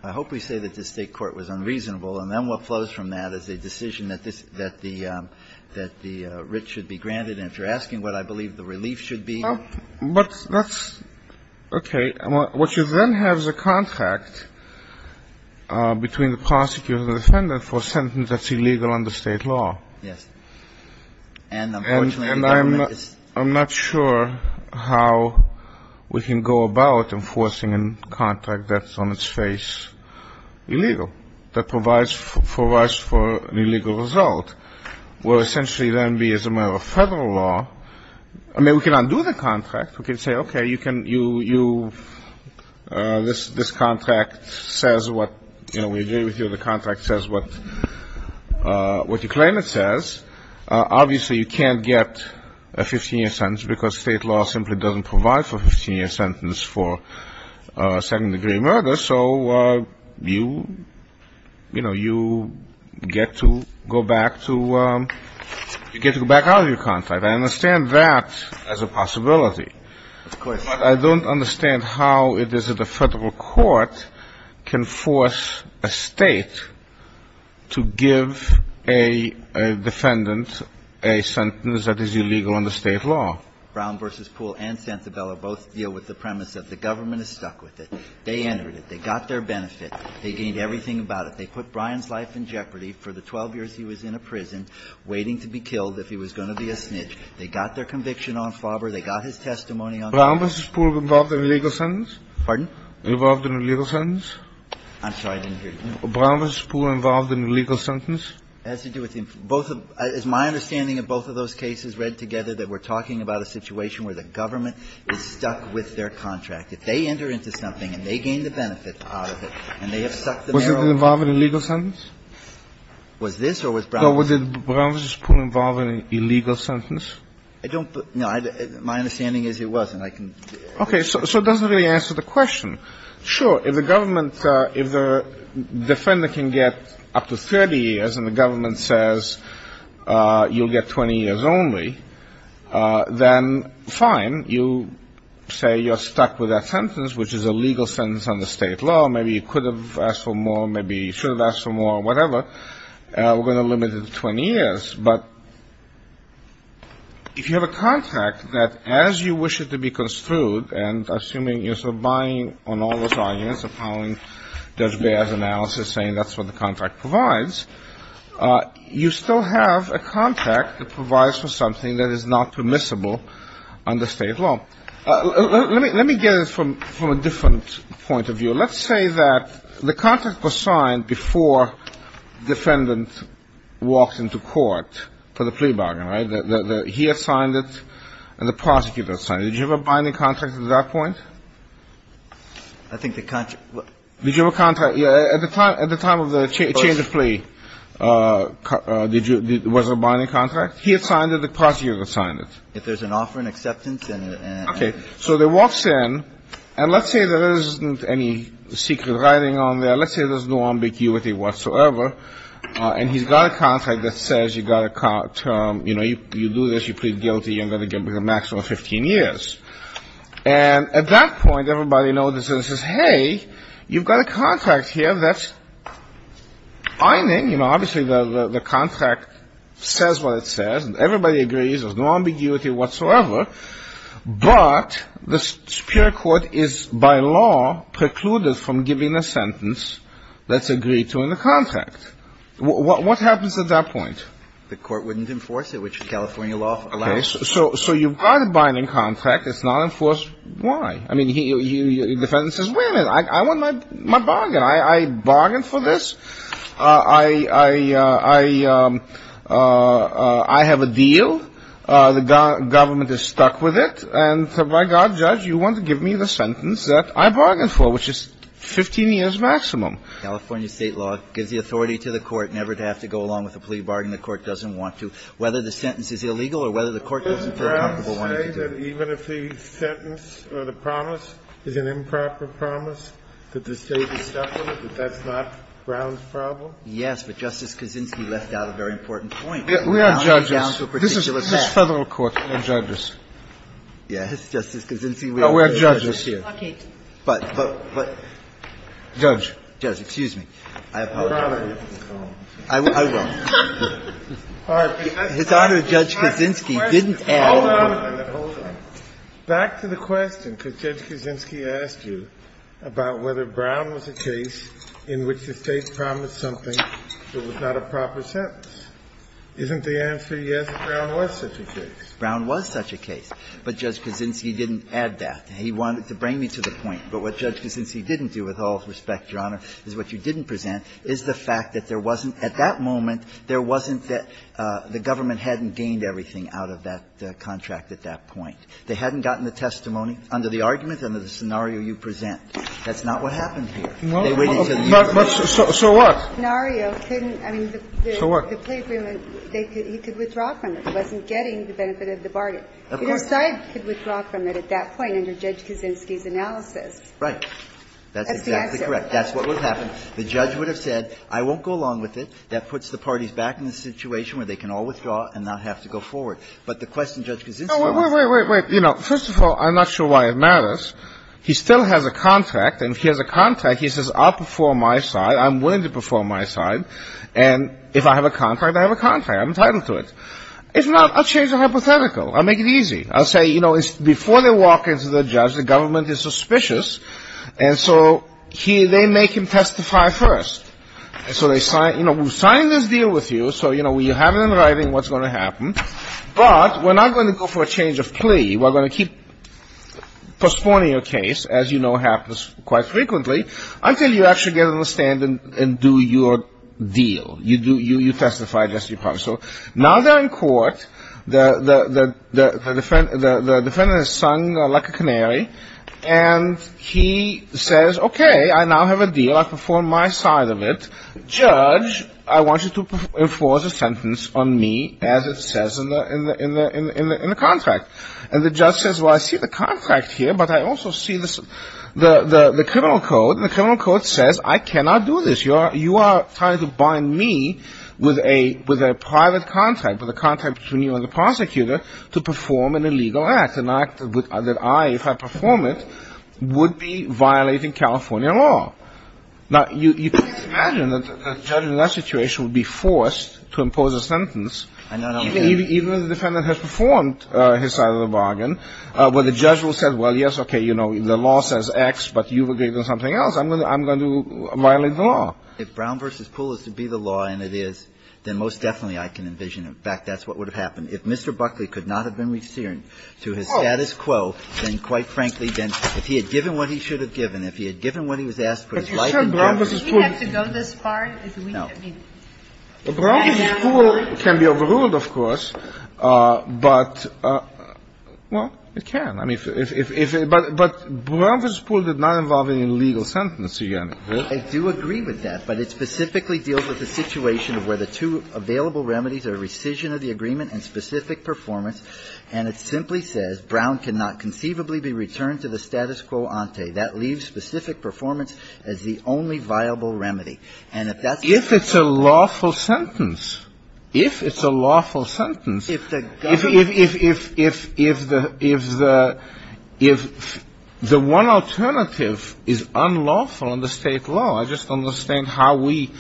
I hope we say that the state court was unreasonable, and then what flows from that is a decision that the writ should be granted, and if you're asking what I believe the relief should be – But that's – okay, what you then have is a contract between the prosecutor and the defendant for a sentence that's illegal under state law. Yes. And unfortunately the government is – And I'm not sure how we can go about enforcing a contract that's on its face illegal, that provides for us for an illegal result. Will essentially then be as a matter of Federal law – I mean, we can undo the contract. We can say, okay, you can – you – this contract says what – you know, we agree with you, the contract says what – what you claim it says. Obviously you can't get a 15-year sentence because state law simply doesn't provide for a 15-year sentence for second-degree murder, so you – you know, you get to go back to – you get to go back out of your contract. I understand that as a possibility. Of course. But I don't understand how it is that a Federal court can force a state to give a defendant a sentence that is illegal under state law. Brown v. Poole and Santabella both deal with the premise that the government is stuck with it. They entered it. They got their benefit. They gained everything about it. They put Brian's life in jeopardy. For the 12 years he was in a prison, waiting to be killed if he was going to be a snitch. They got their conviction on Flauber. They got his testimony on – Brown v. Poole involved in an illegal sentence? Pardon? Involved in an illegal sentence? I'm sorry. I didn't hear you. Brown v. Poole involved in an illegal sentence? It has to do with both of – as my understanding of both of those cases read together, that we're talking about a situation where the government is stuck with their contract. If they enter into something and they gain the benefit out of it and they have sucked the marrow of the – Was it involved in an illegal sentence? Was this or was Brown v. Poole? Was Brown v. Poole involved in an illegal sentence? I don't – no. My understanding is it wasn't. I can – Okay. So it doesn't really answer the question. Sure. If the government – if the defender can get up to 30 years and the government says you'll get 20 years only, then fine. You say you're stuck with that sentence, which is a legal sentence under state law. Maybe you could have asked for more. Maybe you should have asked for more. Whatever. We're going to limit it to 20 years. But if you have a contract that, as you wish it to be construed, and I'm assuming you're sort of buying on all those arguments, appalling Judge Baird's analysis, saying that's what the contract provides, you still have a contract that provides for something that is not permissible under state law. Let me get it from a different point of view. Let's say that the contract was signed before defendant walked into court for the plea bargain, right? He had signed it and the prosecutor had signed it. Did you have a binding contract at that point? I think the – Did you have a contract – at the time of the change of plea, was there a binding contract? He had signed it. The prosecutor had signed it. If there's an offer and acceptance and – Okay. So he walks in and let's say there isn't any secret writing on there. Let's say there's no ambiguity whatsoever. And he's got a contract that says you've got to – you know, you do this, you plead guilty, you're going to get a maximum of 15 years. And at that point, everybody notices and says, hey, you've got a contract here that's ironing. You know, obviously the contract says what it says. Everybody agrees there's no ambiguity whatsoever. But the superior court is, by law, precluded from giving a sentence that's agreed to in the contract. What happens at that point? The court wouldn't enforce it, which California law allows. So you've got a binding contract. It's not enforced. Why? I mean, the defendant says, wait a minute. I want my bargain. I bargained for this. I have a deal. The government is stuck with it. And so by God, Judge, you want to give me the sentence that I bargained for, which is 15 years maximum. California State law gives the authority to the court never to have to go along with a plea bargain. The court doesn't want to. Whether the sentence is illegal or whether the court doesn't feel comfortable wanting to do it. Didn't Brown say that even if the sentence or the promise is an improper promise, that the State is separate, that that's not Brown's problem? Yes, but Justice Kaczynski left out a very important point. We are judges. This is a federal court. We're judges. Yes, Justice Kaczynski. No, we're judges here. Okay. But, but, but. Judge. Judge, excuse me. I apologize. Your Honor. I will. His Honor, Judge Kaczynski didn't ask. Hold on. Back to the question, because Judge Kaczynski asked you about whether Brown was a case in which the State promised something that was not a proper sentence. Isn't the answer, yes, that Brown was such a case? Brown was such a case. But Judge Kaczynski didn't add that. He wanted to bring me to the point. But what Judge Kaczynski didn't do, with all respect, Your Honor, is what you didn't present, is the fact that there wasn't, at that moment, there wasn't that the government hadn't gained everything out of that contract at that point. They hadn't gotten the testimony under the argument, under the scenario you present. That's not what happened here. They waited until the hearing. So what? The scenario couldn't, I mean, the plea agreement, he could withdraw from it. He wasn't getting the benefit of the bargain. Of course not. Your side could withdraw from it at that point under Judge Kaczynski's analysis. Right. That's the answer. That's exactly correct. That's what would have happened. The judge would have said, I won't go along with it. That puts the parties back in the situation where they can all withdraw and not have to go forward. But the question Judge Kaczynski asked. Wait, wait, wait, wait. You know, first of all, I'm not sure why it matters. He still has a contract. And if he has a contract, he says, I'll perform my side. I'm willing to perform my side. And if I have a contract, I have a contract. I'm entitled to it. If not, I'll change the hypothetical. I'll make it easy. I'll say, you know, before they walk into the judge, the government is suspicious. And so they make him testify first. So they sign, you know, we've signed this deal with you. So, you know, we have it in writing what's going to happen. But we're not going to go for a change of plea. We're going to keep postponing your case, as you know happens quite frequently, until you actually get on the stand and do your deal. You testify against your partner. So now they're in court. The defendant is sung like a canary. And he says, okay, I now have a deal. I perform my side of it. Judge, I want you to enforce a sentence on me, as it says in the contract. And the judge says, well, I see the contract here. But I also see the criminal code. And the criminal code says, I cannot do this. You are trying to bind me with a private contract, with a contract between you and the prosecutor, to perform an illegal act. An act that I, if I perform it, would be violating California law. Now, you can imagine that a judge in that situation would be forced to impose a sentence, even if the defendant has performed his side of the bargain, where the judge will say, well, yes, okay, you know, the law says X, but you've agreed on something else. I'm going to violate the law. If Brown v. Poole is to be the law, and it is, then most definitely I can envision it. In fact, that's what would have happened. If Mr. Buckley could not have been resealed to his status quo, then quite frankly, then if he had given what he should have given, if he had given what he was asked for his life, Brown v. Poole can be overruled, of course. But, well, it can. But Brown v. Poole did not involve any legal sentence, do you get me? I do agree with that. But it specifically deals with the situation of where the two available remedies are rescission of the agreement and specific performance. And it simply says, Brown cannot conceivably be returned to the status quo ante. That leaves specific performance as the only viable remedy. And if that's the case… If it's a lawful sentence. If it's a lawful sentence, if the one alternative is unlawful under State law, I just don't understand how we,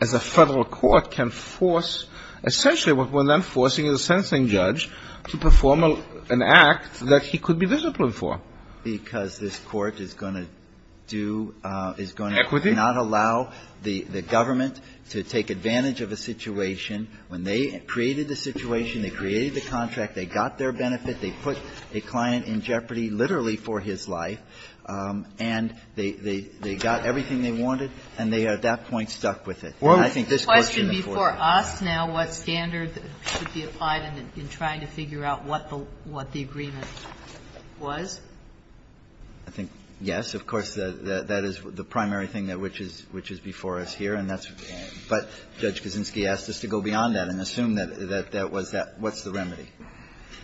as a Federal court, can force, essentially what we're then forcing a sentencing judge to perform an act that he could be disciplined for. Because this Court is going to do… Equity. Well, we cannot allow the government to take advantage of a situation when they created the situation, they created the contract, they got their benefit, they put a client in jeopardy, literally for his life, and they got everything they wanted, and they at that point stuck with it. And I think this Court can afford that. Well, the question before us now, what standard should be applied in trying to figure out what the agreement was? I think, yes, of course, that is the primary thing that which is before us here. And that's what Judge Kaczynski asked us to go beyond that and assume that that was that. What's the remedy?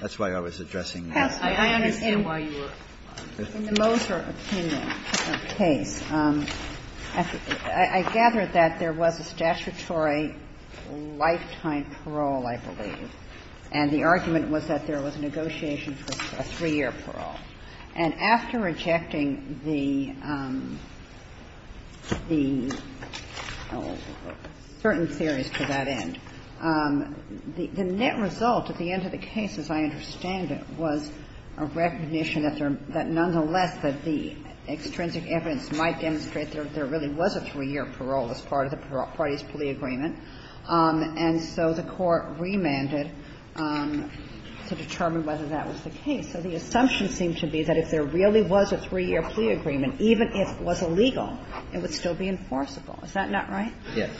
That's why I was addressing that. I understand why you were. In the Moser case, I gather that there was a statutory lifetime parole, I believe. And the argument was that there was a negotiation for a three-year parole. And after rejecting the certain theories to that end, the net result at the end of the case, as I understand it, was a recognition that nonetheless that the extrinsic evidence might demonstrate there really was a three-year parole as part of the parties' plea agreement, and so the Court remanded to determine whether that was the case. So the assumption seemed to be that if there really was a three-year plea agreement, even if it was illegal, it would still be enforceable. Is that not right? Yes.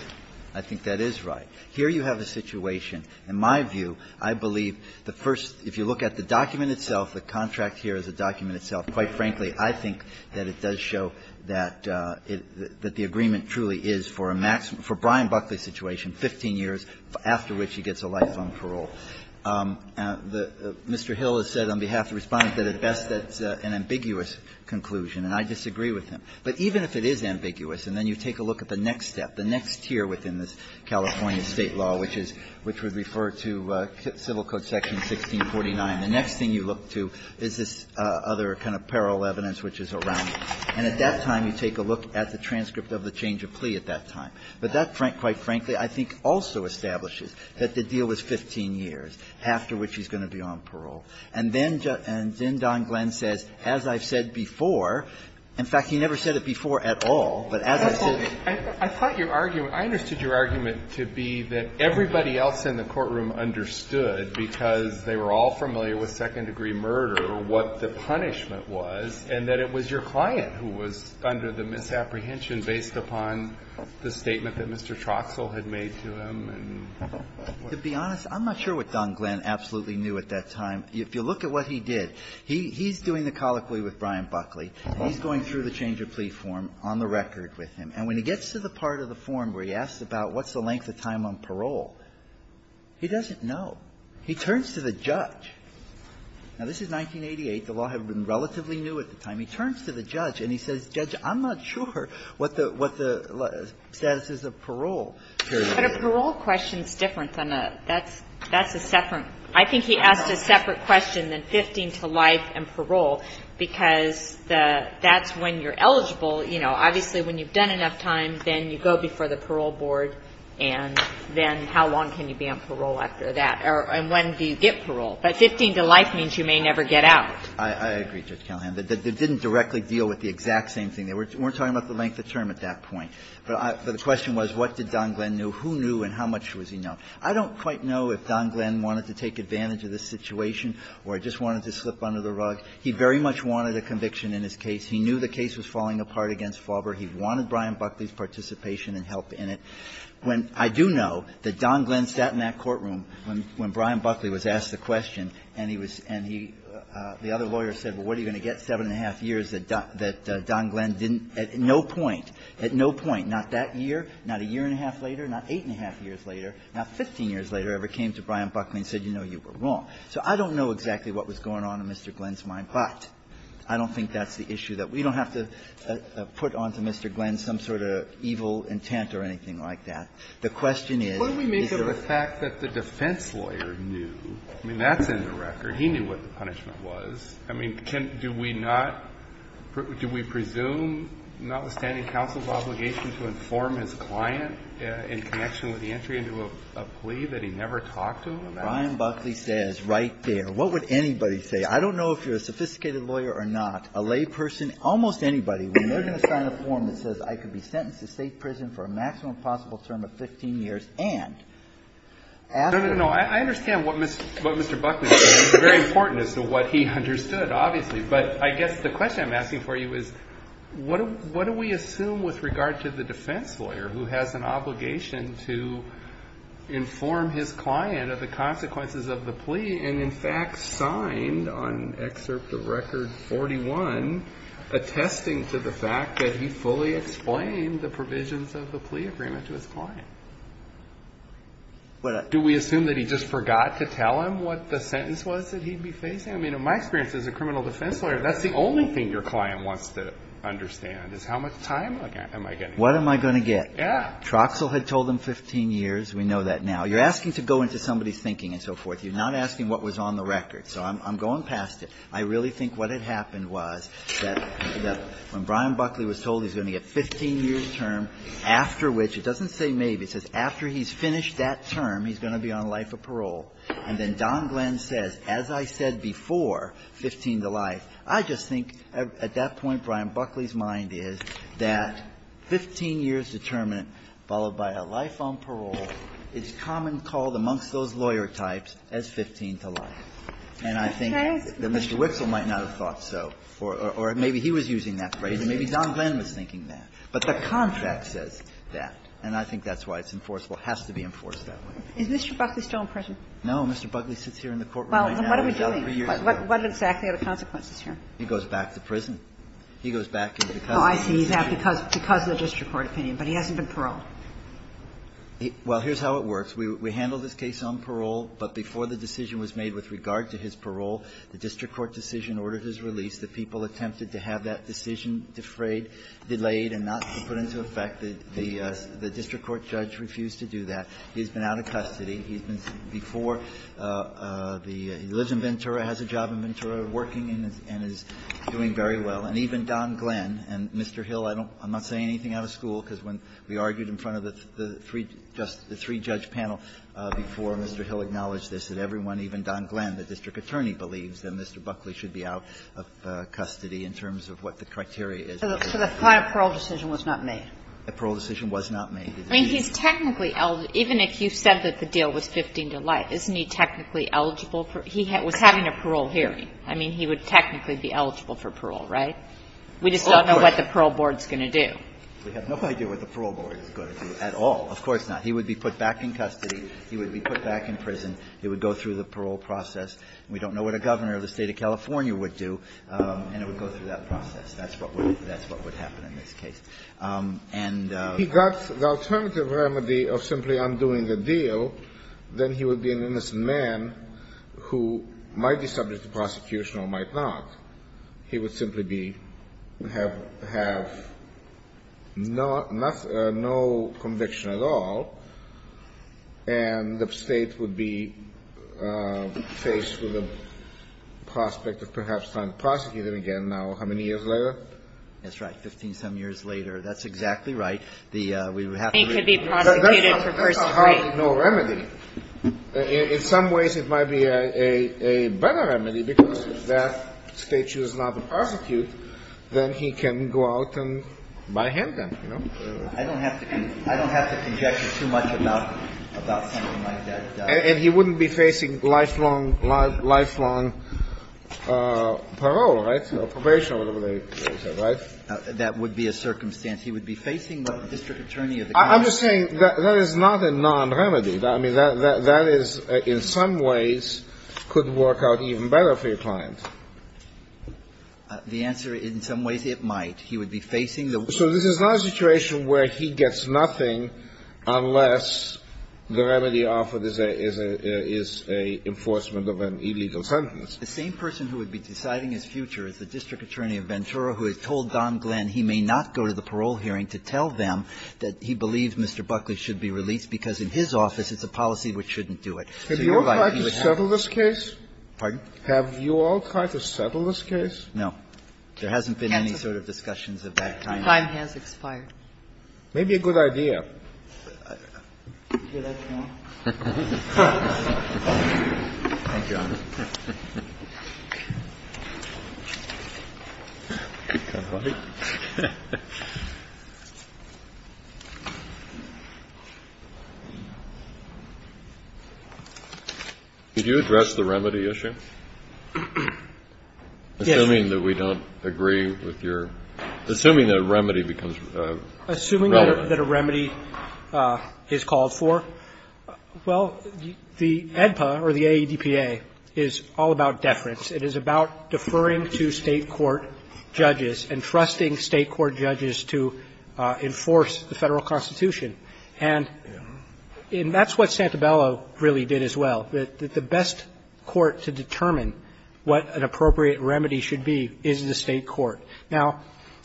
I think that is right. Here you have a situation, in my view, I believe the first, if you look at the document itself, the contract here is a document itself. Quite frankly, I think that it does show that the agreement truly is for a maximum for Brian Buckley's situation, 15 years after which he gets a lifetime parole. Mr. Hill has said on behalf of the Respondent that at best that's an ambiguous conclusion, and I disagree with him. But even if it is ambiguous, and then you take a look at the next step, the next tier within this California State law, which is – which would refer to Civil Code Section 1649, the next thing you look to is this other kind of parole evidence which is around it. And at that time, you take a look at the transcript of the change of plea at that time. But that, quite frankly, I think also establishes that the deal is 15 years, after which he's going to be on parole. And then – and then Don Glenn says, as I've said before, in fact, he never said it before at all, but as I've said – I thought your argument – I understood your argument to be that everybody else in the courtroom understood, because they were all familiar with second-degree murder, what the punishment was, and that it was your client who was under the misapprehension based upon the statement that Mr. Troxell had made to him, and what the other part of it was. To be honest, I'm not sure what Don Glenn absolutely knew at that time. If you look at what he did, he's doing the colloquy with Brian Buckley. He's going through the change of plea form on the record with him. And when he gets to the part of the form where he asks about what's the length of time on parole, he doesn't know. He turns to the judge. Now, this is 1988. The law had been relatively new at the time. He turns to the judge, and he says, Judge, I'm not sure what the status is of parole. But a parole question is different than a – that's a separate – I think he asked a separate question than 15 to life and parole, because the – that's when you're eligible, you know. Obviously, when you've done enough time, then you go before the parole board, and then how long can you be on parole after that? Or when do you get parole? But 15 to life means you may never get out. I agree, Judge Callahan. But they didn't directly deal with the exact same thing. They weren't talking about the length of term at that point. But the question was, what did Don Glenn know, who knew, and how much was he known? I don't quite know if Don Glenn wanted to take advantage of this situation or just wanted to slip under the rug. He very much wanted a conviction in his case. He knew the case was falling apart against Faubourg. He wanted Brian Buckley's participation and help in it. When – I do know that Don Glenn sat in that courtroom when Brian Buckley was asked a question, and he was – and he – the other lawyer said, well, what are you going to get 7-1⁄2 years that Don Glenn didn't – at no point, at no point, not that year, not a year-and-a-half later, not 8-1⁄2 years later, not 15 years later, ever came to Brian Buckley and said, you know, you were wrong. So I don't know exactly what was going on in Mr. Glenn's mind, but I don't think that's the issue that we don't have to put onto Mr. Glenn some sort of evil intent The question is, is there a – Kennedy. What do we make of the fact that the defense lawyer knew – I mean, that's in the record. He knew what the punishment was. I mean, can – do we not – do we presume, notwithstanding counsel's obligation to inform his client in connection with the entry into a plea that he never talked to him about? Brian Buckley says right there, what would anybody say? I don't know if you're a sophisticated lawyer or not. A layperson, almost anybody, when they're going to sign a form that says I could be sentenced to state prison for a maximum possible term of 15 years and after – No, no, no. I understand what Mr. Buckley said. It's very important as to what he understood, obviously. But I guess the question I'm asking for you is, what do we assume with regard to the defense lawyer who has an obligation to inform his client of the consequences of the plea and in fact signed on Excerpt of Record 41, attesting to the fact that he fully explained the provisions of the plea agreement to his client? Do we assume that he just forgot to tell him what the sentence was that he'd be facing? I mean, in my experience as a criminal defense lawyer, that's the only thing your client wants to understand, is how much time am I getting? What am I going to get? Yeah. Troxell had told him 15 years. We know that now. You're asking to go into somebody's thinking and so forth. You're not asking what was on the record. So I'm going past it. I really think what had happened was that when Brian Buckley was told he was going to get a 15-year term, after which, it doesn't say maybe, it says after he's finished that term, he's going to be on life or parole, and then Don Glenn says, as I said before, 15 to life, I just think at that point, Brian Buckley's mind is that 15 years determinant followed by a life on parole, it's common called amongst those lawyer types as 15 to life. And I think that Mr. Witzel might not have thought so, or maybe he was using that phrase, and maybe Don Glenn was thinking that. But the contract says that, and I think that's why it's enforceable. It has to be enforced that way. Is Mr. Buckley still in prison? No. Mr. Buckley sits here in the courtroom right now. Well, then what are we doing? What exactly are the consequences here? He goes back to prison. He goes back in because of the district court opinion. Oh, I see. He's out because of the district court opinion, but he hasn't been paroled. Well, here's how it works. We handle this case on parole, but before the decision was made with regard to his parole, the district court decision ordered his release. The people attempted to have that decision defrayed, delayed, and not put into effect. The district court judge refused to do that. He's been out of custody. He's been before the — he lives in Ventura, has a job in Ventura, working and is doing very well. And even Don Glenn and Mr. Hill, I don't — I'm not saying anything out of school because when we argued in front of the three — just the three-judge panel before Mr. Hill acknowledged this, that everyone, even Don Glenn, the district attorney, believes that Mr. Buckley should be out of custody in terms of what the criteria is. So the final parole decision was not made? The parole decision was not made. I mean, he's technically — even if you said that the deal was 15 to life, isn't he technically eligible for — he was having a parole hearing. I mean, he would technically be eligible for parole, right? We just don't know what the parole board is going to do. We have no idea what the parole board is going to do at all. Of course not. He would be put back in custody. He would be put back in prison. He would go through the parole process. We don't know what a governor of the State of California would do, and it would go through that process. That's what would — that's what would happen in this case. And — If he got the alternative remedy of simply undoing the deal, then he would be an innocent man who might be subject to prosecution or might not. He would simply be — have — have no — no conviction at all, and the State would be faced with the prospect of perhaps trying to prosecute him again now, how many years later? That's right. Fifteen-some years later. That's exactly right. The — we would have to — He could be prosecuted for first degree. There's no remedy. In some ways, it might be a — a better remedy, because if that State should not prosecute, then he can go out and buy him then, you know? I don't have to — I don't have to conjecture too much about — about something like that. And he wouldn't be facing lifelong — lifelong parole, right? Or probation or whatever they say, right? That would be a circumstance. He would be facing the district attorney of the county. I'm just saying that that is not a non-remedy. I mean, that — that is, in some ways, could work out even better for your client. The answer is, in some ways, it might. He would be facing the — So this is not a situation where he gets nothing unless the remedy offered is a — is a enforcement of an illegal sentence. The same person who would be deciding his future is the district attorney of Ventura, who has told Don Glenn he may not go to the parole hearing to tell them that he believes Mr. Buckley should be released, because in his office, it's a policy which shouldn't do it. So you're right, he would have to go to the parole hearing. Have you all tried to settle this case? Pardon? Have you all tried to settle this case? No. There hasn't been any sort of discussions of that kind. The time has expired. Maybe a good idea. Thank you, Honor. Could you address the remedy issue? Yes. Assuming that we don't agree with your – assuming that a remedy becomes relevant. Assuming that a remedy is called for, well, the AEDPA or the AEDPA is all about deference. It is about deferring to State court judges and trusting State court judges to enforce the Federal Constitution. And that's what Santabella really did as well, that the best court to determine what an appropriate remedy should be is the State court. Now,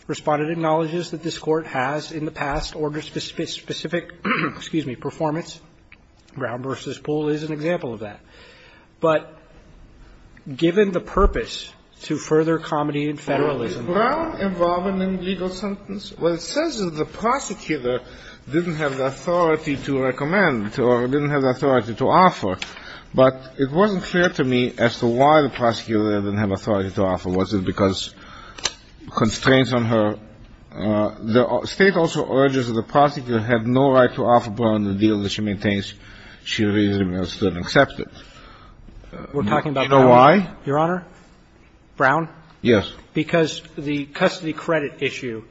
Respondent acknowledges that this Court has in the past ordered specific – excuse me – performance. Brown v. Poole is an example of that. But given the purpose to further comedy and Federalism – Well, is Brown involved in any legal sentence? Well, it says that the prosecutor didn't have the authority to recommend or didn't have the authority to offer. But it wasn't clear to me as to why the prosecutor didn't have authority to offer. Was it because constraints on her? The State also urges that the prosecutor have no right to offer Brown the deal that she maintains she reasonably understood and accepted. We're talking about Brown? You know why, Your Honor? Brown? Yes. Because the custody credit issue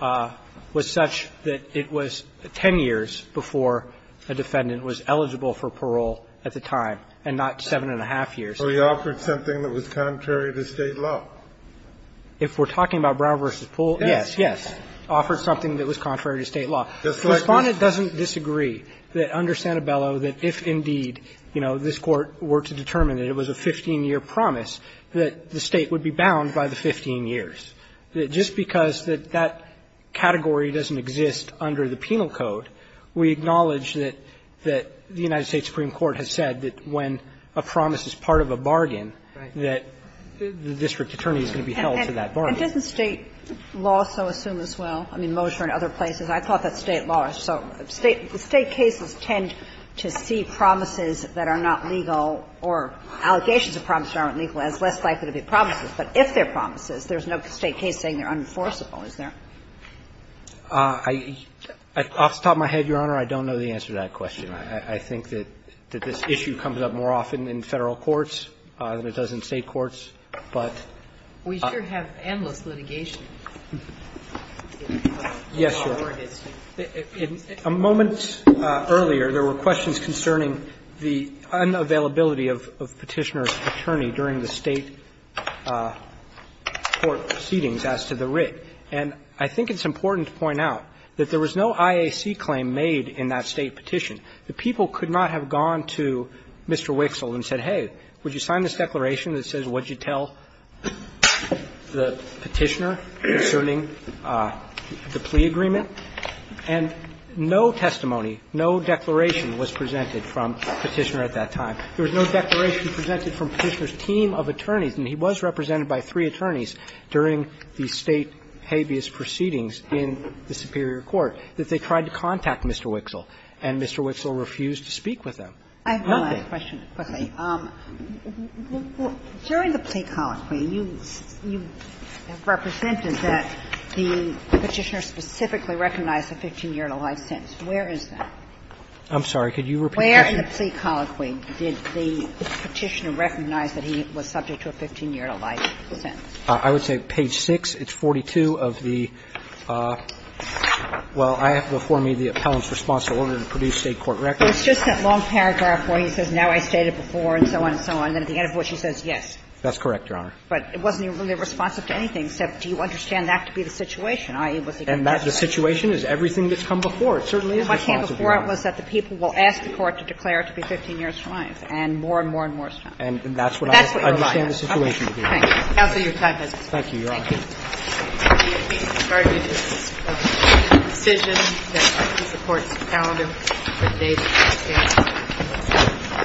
was such that it was 10 years before a defendant was eligible for parole at the time, and not 7-1⁄2 years. So he offered something that was contrary to State law? If we're talking about Brown v. Poole, yes, yes, offered something that was contrary to State law. The Respondent doesn't disagree that under Santabella, that if indeed, you know, this Court were to determine that it was a 15-year promise, that the State would be bound by the 15 years. Just because that category doesn't exist under the penal code, we acknowledge that the United States Supreme Court has said that when a promise is part of a bargain, that the district attorney is going to be held to that bargain. And doesn't State law so assume as well? I mean, Mosher and other places. I thought that State law. So State cases tend to see promises that are not legal or allegations of promises that aren't legal as less likely to be promises, but if they're promises, there's no State case saying they're unenforceable, is there? I'll stop my head, Your Honor. I don't know the answer to that question. I think that this issue comes up more often in Federal courts than it does in State courts, but we sure have endless litigation. Yes, Your Honor. A moment earlier, there were questions concerning the unavailability of Petitioner's attorney during the State court proceedings as to the writ. And I think it's important to point out that there was no IAC claim made in that State petition. The people could not have gone to Mr. Wixel and said, hey, would you sign this declaration that says, would you tell the Petitioner concerning the plea agreement? And no testimony, no declaration was presented from Petitioner at that time. There was no declaration presented from Petitioner's team of attorneys. And he was represented by three attorneys during the State habeas proceedings in the Superior Court that they tried to contact Mr. Wixel, and Mr. Wixel refused to speak with them. Nothing. I have one last question, quickly. During the plea colloquy, you represented that the Petitioner specifically recognized a 15-year life sentence. Where is that? I'm sorry. Could you repeat that? I would say page 6, it's 42 of the, well, I have before me the appellant's response to order to produce State court records. It's just that long paragraph where he says, now I stated before, and so on and so on, and at the end of which he says yes. That's correct, Your Honor. But it wasn't really responsive to anything, except do you understand that to be the situation, i.e., was he going to testify? And the situation is everything that's come before. It certainly is responsive, Your Honor. What came before it was that the people will ask the court to declare it to be 15 years to life, and more and more and more is done. And that's what I understand the situation to be. Counsel, your time has expired. Thank you, Your Honor. Thank you. The argument is a decision that supports the calendar for the date of the case.